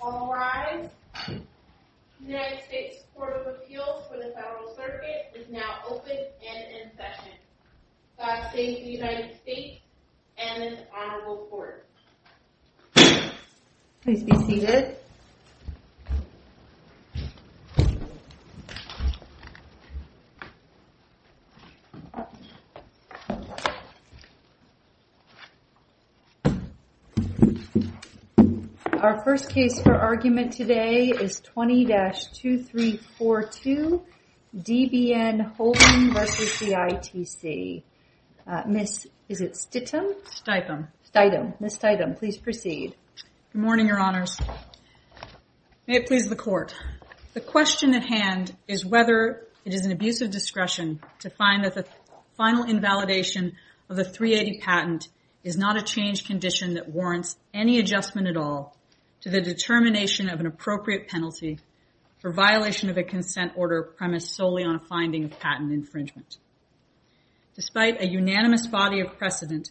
All rise. United States Court of Appeals for the Federal Circuit is now open and in session. God save the United States and this honorable court. Please be seated. Our first case for argument today is 20-2342, D.B.N. Holding v. ITC. Ms. Steitham, please proceed. Good morning, your honors. May it please the court. The question at hand is whether it is an abuse of discretion to find that the final invalidation of the 380 patent is not a change condition that warrants any adjustment at all to the determination of an appropriate penalty for violation of a consent order premised solely on a finding of patent infringement. Despite a unanimous body of precedent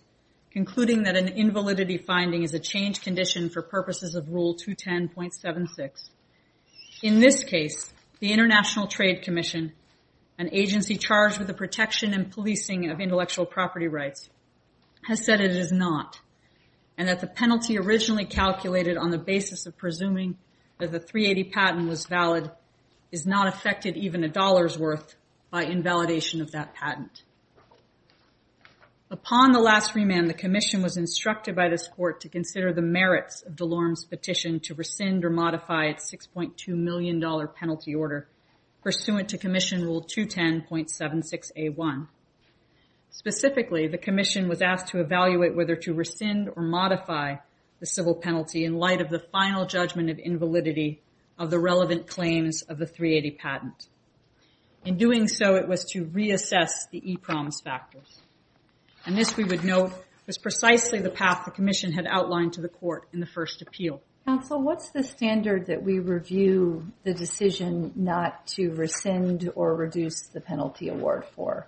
concluding that an invalidity finding is a change condition for purposes of Rule 210.76, in this case, the International Trade Commission, an agency charged with the protection and policing of intellectual property rights, has said it is not, and that the penalty originally calculated on the basis of presuming that the 380 patent was valid is not affected even a dollar's worth by invalidation of that patent. Upon the last remand, the Commission was instructed by this court to consider the merits of DeLorme's petition to rescind or modify its $6.2 million penalty order pursuant to Commission Rule 210.76A1. Specifically, the Commission was asked to evaluate whether to rescind or modify the civil penalty in light of the final judgment of invalidity of the relevant claims of the 380 patent. In doing so, it was to reassess the e-promise factors, and this, we would note, was precisely the path the Commission had outlined to the court in the first appeal. Counsel, what's the standard that we review the decision not to rescind or reduce the penalty award for?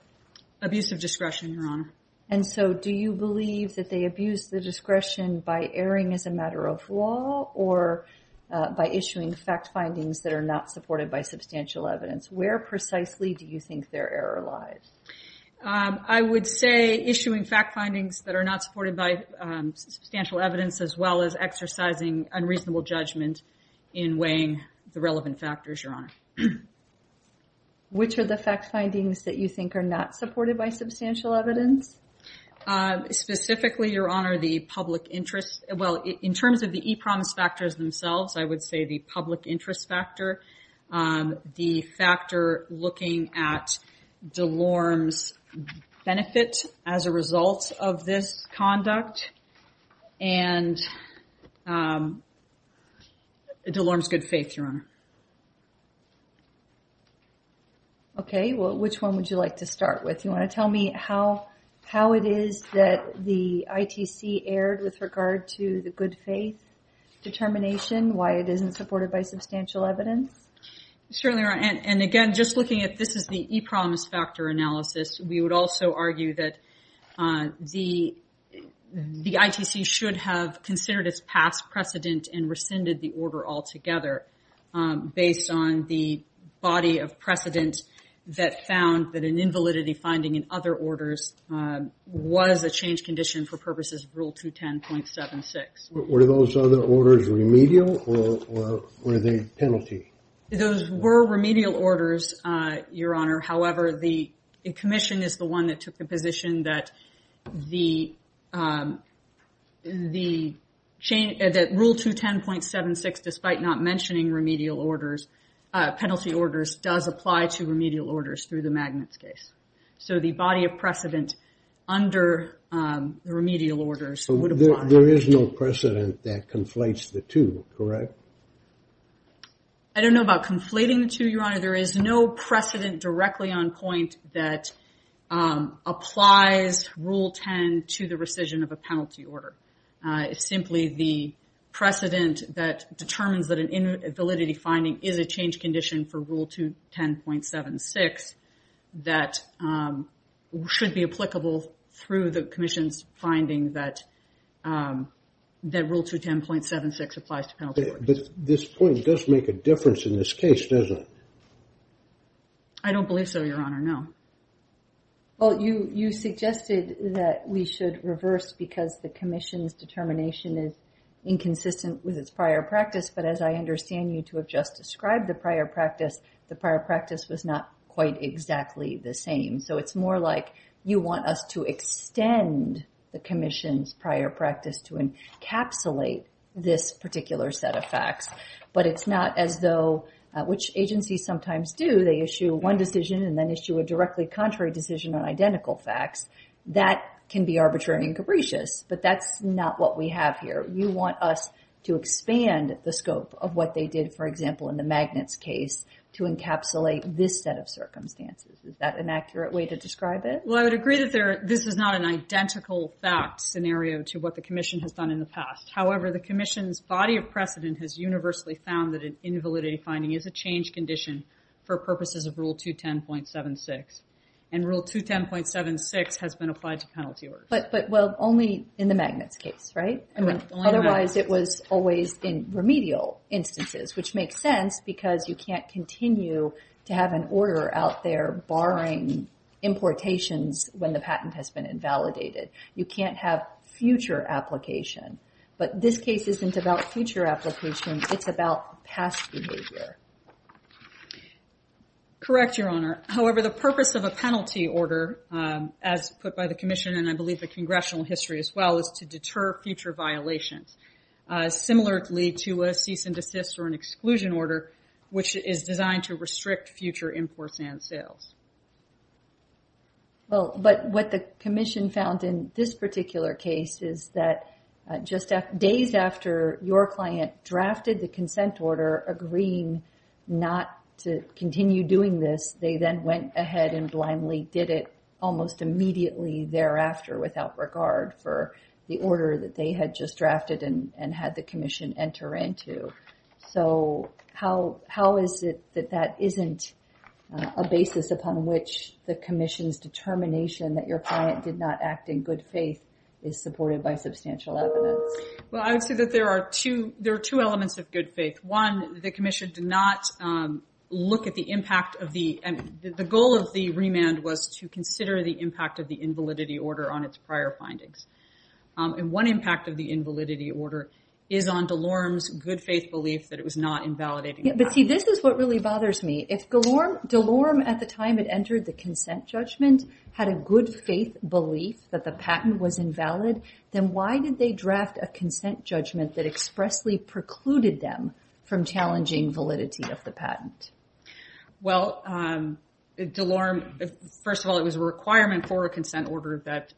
Abuse of discretion, Your Honor. And so, do you believe that they abuse the discretion by erring as a matter of law or by issuing fact findings that are not supported by substantial evidence? Where precisely do you think their error lies? I would say issuing fact findings that are not supported by substantial evidence as well as exercising unreasonable judgment in weighing the relevant factors, Your Honor. Which are the fact findings that you think are not supported by substantial evidence? Specifically, Your Honor, the public interest, well, in terms of the e-promise factors themselves, I would say the public interest factor. The factor looking at DeLorme's benefit as a result of this conduct and DeLorme's good faith, Your Honor. Okay, well, which one would you like to start with? You want to tell me how it is that the ITC erred with regard to the good faith determination, why it isn't supported by substantial evidence? Certainly, Your Honor, and again, just looking at this as the e-promise factor analysis, we would also argue that the ITC should have considered its past precedent and rescinded the order altogether based on the body of precedent that found that an invalidity finding in other orders was a change condition for purposes of Rule 210.76. Were those other orders remedial or were they penalty? Those were remedial orders, Your Honor. However, the commission is the one that took the position that Rule 210.76, despite not mentioning remedial orders, penalty orders, does apply to remedial orders through the magnets case. So the body of precedent under the remedial orders would apply. There is no precedent that conflates the two, correct? I don't know about conflating the two, Your Honor. There is no precedent directly on point that applies Rule 10 to the rescission of a penalty order. It's simply the precedent that determines that an invalidity finding is a change condition for Rule 210.76 that should be applicable through the commission's finding that Rule 210.76 applies to penalty orders. But this point does make a difference in this case, doesn't it? I don't believe so, Your Honor, no. Well, you suggested that we should reverse because the commission's determination is inconsistent with its prior practice. But as I understand you to have just described the prior practice, the prior practice was not quite exactly the same. So it's more like you want us to extend the commission's prior practice to encapsulate this particular set of facts. But it's not as though, which agencies sometimes do, they issue one decision and then issue a directly contrary decision on identical facts. That can be arbitrary and capricious, but that's not what we have here. You want us to expand the scope of what they did, for example, in the magnets case to encapsulate this set of circumstances. Is that an accurate way to describe it? Well, I would agree that this is not an identical fact scenario to what the commission has done in the past. However, the commission's body of precedent has universally found that an invalidity finding is a change condition for purposes of Rule 210.76. And Rule 210.76 has been applied to penalty orders. But, well, only in the magnets case, right? Otherwise, it was always in remedial instances, which makes sense because you can't continue to have an order out there barring importations when the patent has been invalidated. You can't have future application. But this case isn't about future application. It's about past behavior. Correct, Your Honor. However, the purpose of a penalty order, as put by the commission, and I believe the congressional history as well, is to deter future violations. Similarly to a cease and desist or an exclusion order, which is designed to restrict future imports and sales. Well, but what the commission found in this particular case is that just days after your client drafted the consent order agreeing not to continue doing this, they then went ahead and blindly did it almost immediately thereafter without regard for the order that they had just drafted and had the commission enter into. So how is it that that isn't a basis upon which the commission's determination that your client did not act in good faith is supported by substantial evidence? Well, I would say that there are two elements of good faith. One, the commission did not look at the impact of the end. The goal of the remand was to consider the impact of the invalidity order on its prior findings. And one impact of the invalidity order is on Delorme's good faith belief that it was not invalidating. But see, this is what really bothers me. If Delorme, at the time it entered the consent judgment, had a good faith belief that the patent was invalid, then why did they draft a consent judgment that expressly precluded them from challenging validity of the patent? Well, Delorme, first of all, it was a requirement for a consent order that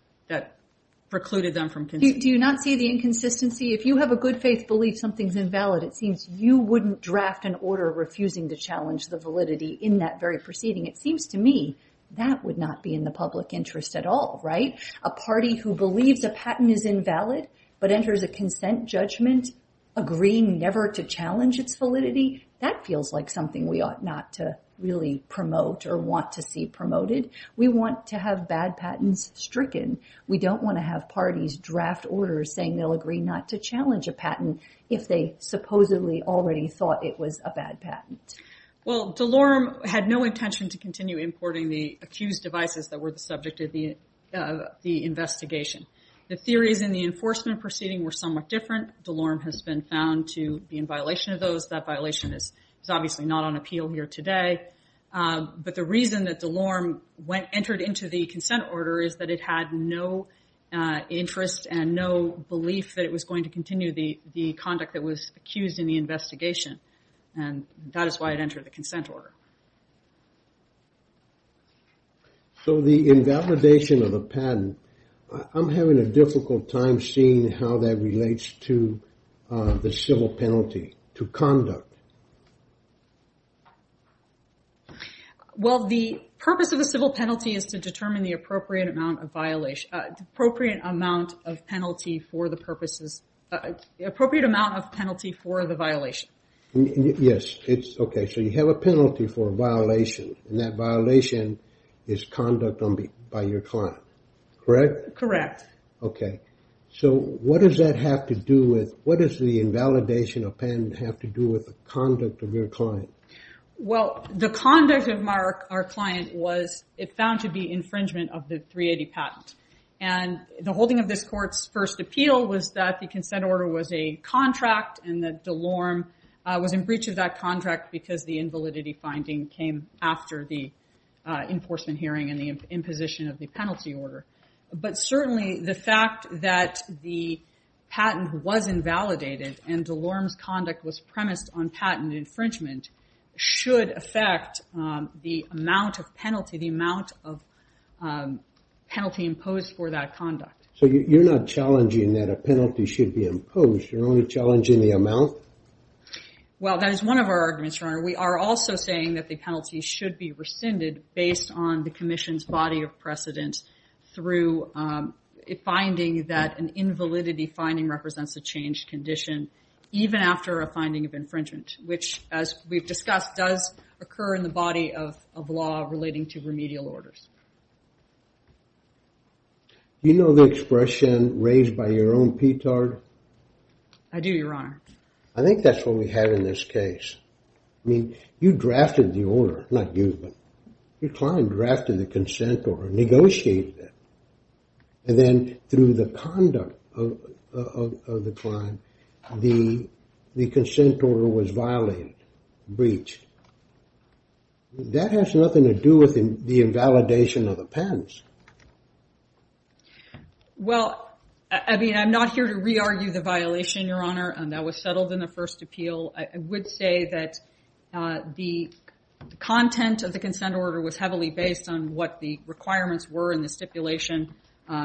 precluded them from... Do you not see the inconsistency? If you have a good faith belief something's invalid, it seems you wouldn't draft an order refusing to challenge the validity in that very proceeding. It seems to me that would not be in the public interest at all, right? A party who believes a patent is invalid but enters a consent judgment agreeing never to challenge its validity, that feels like something we ought not to really promote or want to see promoted. We want to have bad patents stricken. We don't want to have parties draft orders saying they'll agree not to challenge a patent if they supposedly already thought it was a bad patent. Well, Delorme had no intention to continue importing the accused devices that were the subject of the investigation. The theories in the enforcement proceeding were somewhat different. Delorme has been found to be in violation of those. That violation is obviously not on appeal here today. But the reason that Delorme entered into the consent order is that it had no interest and no belief that it was going to continue the conduct that was accused in the investigation. And that is why it entered the consent order. So the invalidation of a patent, I'm having a difficult time seeing how that relates to the civil penalty to conduct. Well, the purpose of the civil penalty is to determine the appropriate amount of penalty for the violation. Yes, okay, so you have a penalty for a violation. And that violation is conduct by your client, correct? Correct. Okay. So what does the invalidation of a patent have to do with the conduct of your client? Well, the conduct of our client was found to be infringement of the 380 patent. And the holding of this court's first appeal was that the consent order was a contract and that Delorme was in breach of that contract because the invalidity finding came after the enforcement hearing and the imposition of the penalty order. But certainly the fact that the patent was invalidated and Delorme's conduct was premised on patent infringement should affect the amount of penalty, the amount of penalty imposed for that conduct. So you're not challenging that a penalty should be imposed? You're only challenging the amount? Well, that is one of our arguments, Your Honor. We are also saying that the penalty should be rescinded based on the commission's body of precedent through a finding that an invalidity finding represents a changed condition, even after a finding of infringement, which as we've discussed does occur in the body of law relating to remedial orders. Do you know the expression raised by your own petard? I do, Your Honor. I think that's what we had in this case. I mean, you drafted the order, not you, but your client drafted the consent order, negotiated it, and then through the conduct of the client, the consent order was violated, breached. That has nothing to do with the invalidation of the patents. Well, I mean, I'm not here to re-argue the violation, Your Honor. That was settled in the first appeal. I would say that the content of the consent order was heavily based on what the requirements were in the stipulation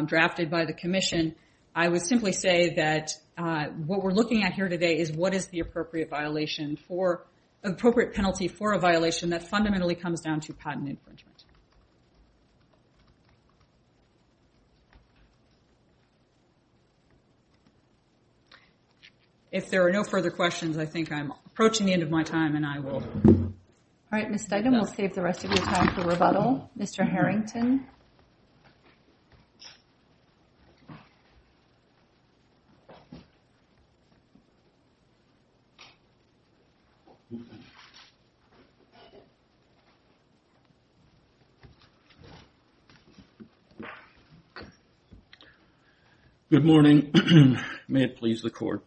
drafted by the commission. I would simply say that what we're looking at here today is what is the appropriate penalty for a violation that fundamentally comes down to patent infringement. If there are no further questions, I think I'm approaching the end of my time, and I will... All right, Ms. Stegman, we'll save the rest of your time for rebuttal. Mr. Harrington. Good morning. May it please the Court.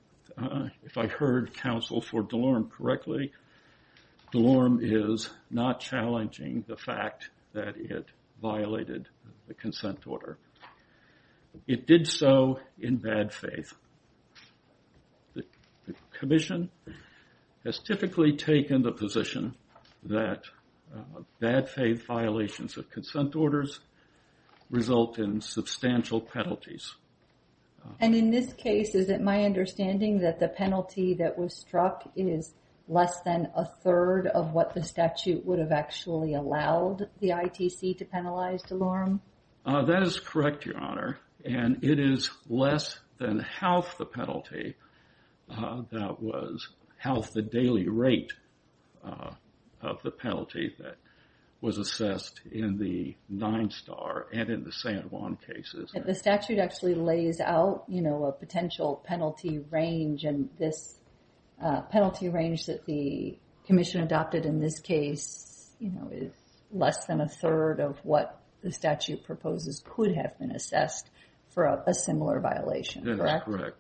If I heard counsel for DeLorme correctly, DeLorme is not challenging the fact that it violated the consent order. It did so in bad faith. The commission has typically taken the position that bad faith violations of consent orders result in substantial penalties. And in this case, is it my understanding that the penalty that was struck is less than a third of what the statute would have actually allowed the ITC to penalize DeLorme? That is correct, Your Honor. And it is less than half the penalty that was half the daily rate of the penalty that was assessed in the Nine Star and in the San Juan cases. The statute actually lays out a potential penalty range, and this penalty range that the commission adopted in this case is less than a third of what the statute proposes could have been assessed for a similar violation, correct? That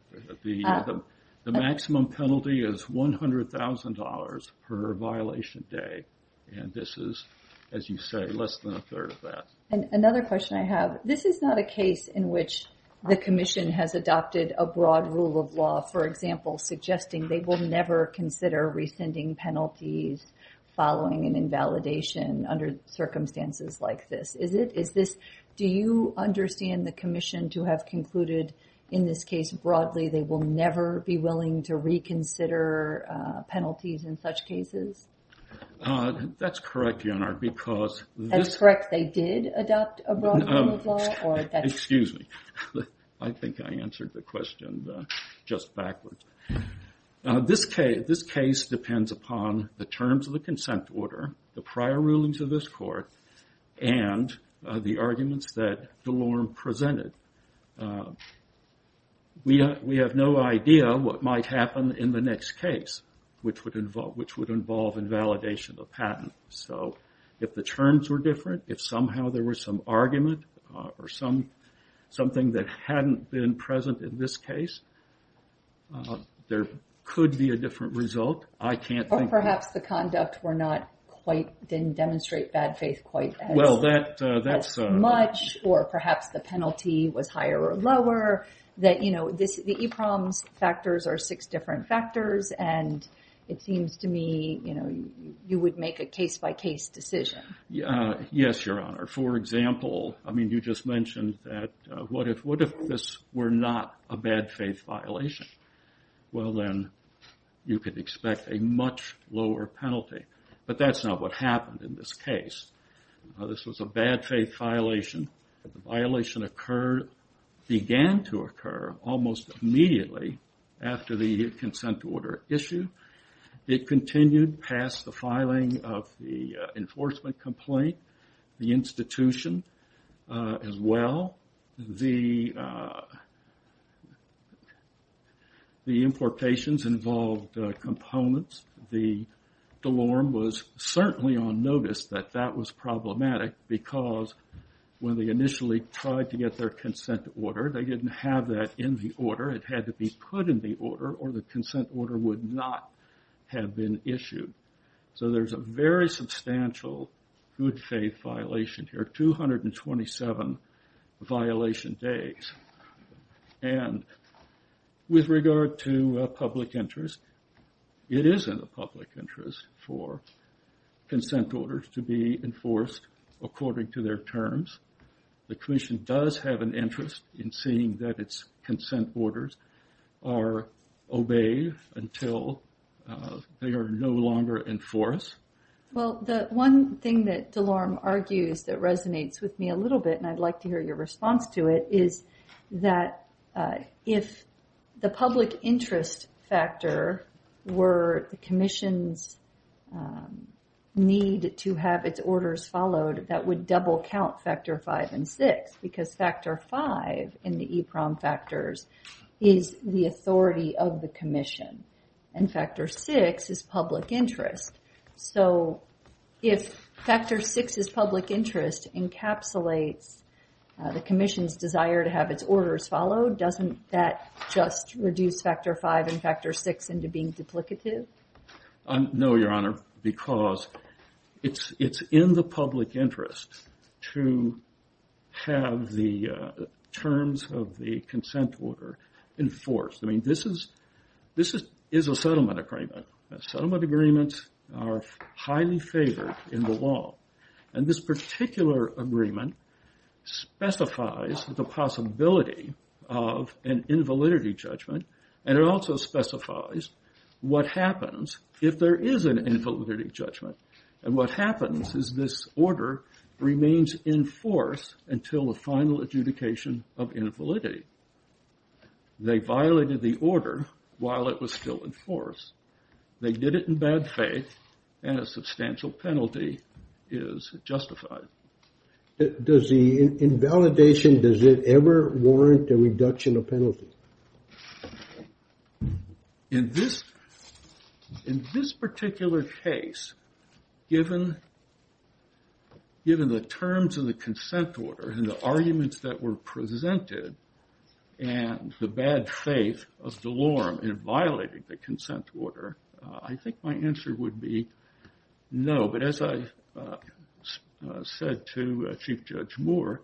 is correct. The maximum penalty is $100,000 per violation day, and this is, as you say, less than a third of that. Another question I have. This is not a case in which the commission has adopted a broad rule of law, for example, suggesting they will never consider rescinding penalties following an invalidation under circumstances like this, is it? Do you understand the commission to have concluded in this case broadly they will never be willing to reconsider penalties in such cases? That's correct, Your Honor. That's correct. They did adopt a broad rule of law? Excuse me. I think I answered the question just backwards. This case depends upon the terms of the consent order, the prior rulings of this court, and the arguments that DeLorme presented. We have no idea what might happen in the next case, which would involve invalidation of patent. If the terms were different, if somehow there was some argument or something that hadn't been present in this case, there could be a different result. Or perhaps the conduct didn't demonstrate bad faith quite as much, or perhaps the penalty was higher or lower. The EPROM factors are six different factors, and it seems to me you would make a case-by-case decision. Yes, Your Honor. For example, you just mentioned that what if this were not a bad faith violation? Well, then you could expect a much lower penalty. But that's not what happened in this case. This was a bad faith violation. The violation began to occur almost immediately after the consent order issue. It continued past the filing of the enforcement complaint, the institution as well. The importations involved components. DeLorme was certainly on notice that that was problematic because when they initially tried to get their consent order, they didn't have that in the order. It had to be put in the order, or the consent order would not have been issued. So there's a very substantial good faith violation here, 227 violation days. And with regard to public interest, it is in the public interest for consent orders to be enforced according to their terms. The Commission does have an interest in seeing that its consent orders are obeyed until they are no longer enforced. Well, the one thing that DeLorme argues that resonates with me a little bit, and I'd like to hear your response to it, is that if the public interest factor were the Commission's need to have its orders followed, that would double count Factor V and VI, because Factor V in the EEPROM factors is the authority of the Commission, and Factor VI is public interest. So if Factor VI is public interest, encapsulates the Commission's desire to have its orders followed, doesn't that just reduce Factor V and Factor VI into being duplicative? No, Your Honor, because it's in the public interest to have the terms of the consent order enforced. I mean, this is a settlement agreement. Settlement agreements are highly favored in the law. And this particular agreement specifies the possibility of an invalidity judgment, and it also specifies what happens if there is an invalidity judgment. And what happens is this order remains in force until the final adjudication of invalidity. They violated the order while it was still in force. They did it in bad faith, and a substantial penalty is justified. Does the invalidation, does it ever warrant a reduction of penalty? In this particular case, given the terms of the consent order and the arguments that were presented, and the bad faith of Delorme in violating the consent order, I think my answer would be no. But as I said to Chief Judge Moore,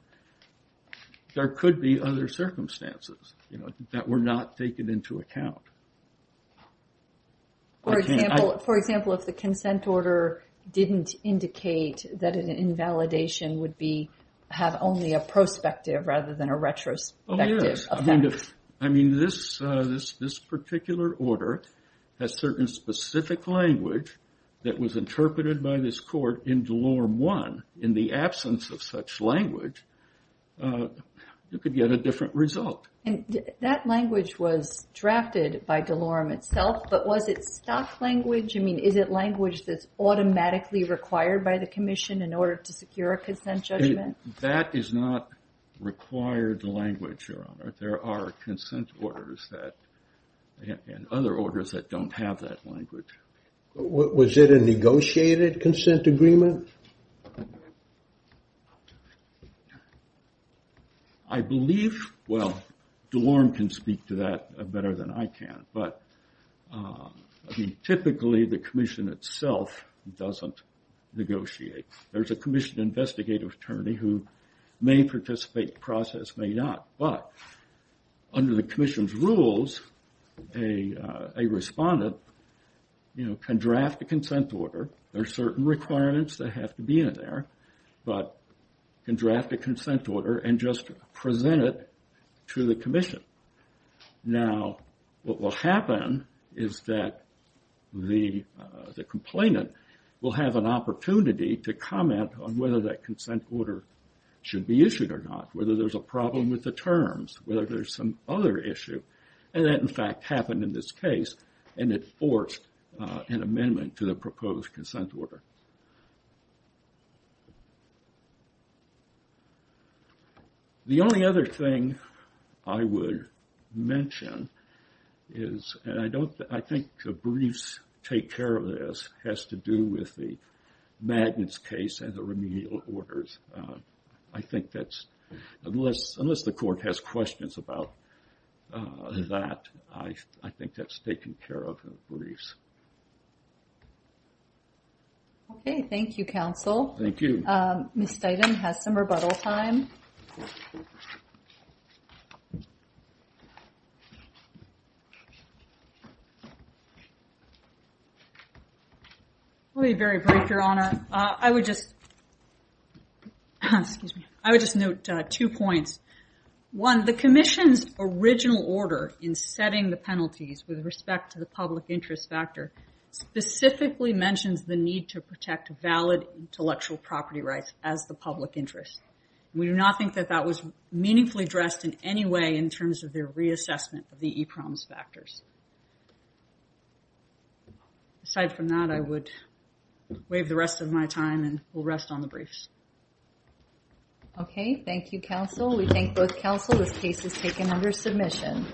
there could be other circumstances that were not taken into account. For example, if the consent order didn't indicate that an invalidation would have only a prospective rather than a retrospective effect. This particular order has certain specific language that was interpreted by this court in Delorme I. In the absence of such language, you could get a different result. That language was drafted by Delorme itself, but was it stock language? Is it language that's automatically required by the Commission in order to secure a consent judgment? That is not required language, Your Honor. There are consent orders and other orders that don't have that language. Was it a negotiated consent agreement? I believe, well, Delorme can speak to that better than I can, but typically the Commission itself doesn't negotiate. There's a Commission investigative attorney who may participate in the process, may not, but under the Commission's rules, a respondent can draft a consent order. There are certain requirements that have to be in there, but can draft a consent order and just present it to the Commission. Now, what will happen is that the complainant will have an opportunity to comment on whether that consent order should be issued or not, whether there's a problem with the terms, whether there's some other issue, and that, in fact, happened in this case, and it forced an amendment to the proposed consent order. The only other thing I would mention is, and I think the briefs take care of this, has to do with the magnets case and the remedial orders. I think that's, unless the Court has questions about that, I think that's taken care of in the briefs. Okay, thank you, Counsel. Thank you. Ms. Steighton has some rebuttal time. I'll be very brief, Your Honor. I would just note two points. One, the Commission's original order in setting the penalties with respect to the public interest factor specifically mentions the need to protect valid intellectual property rights as the public interest, and we do not think that that was meaningfully addressed in any way in terms of their reassessment of the e-promise factors. Aside from that, I would waive the rest of my time and we'll rest on the briefs. Okay, thank you, Counsel. We thank both Counsel. This case is taken under submission.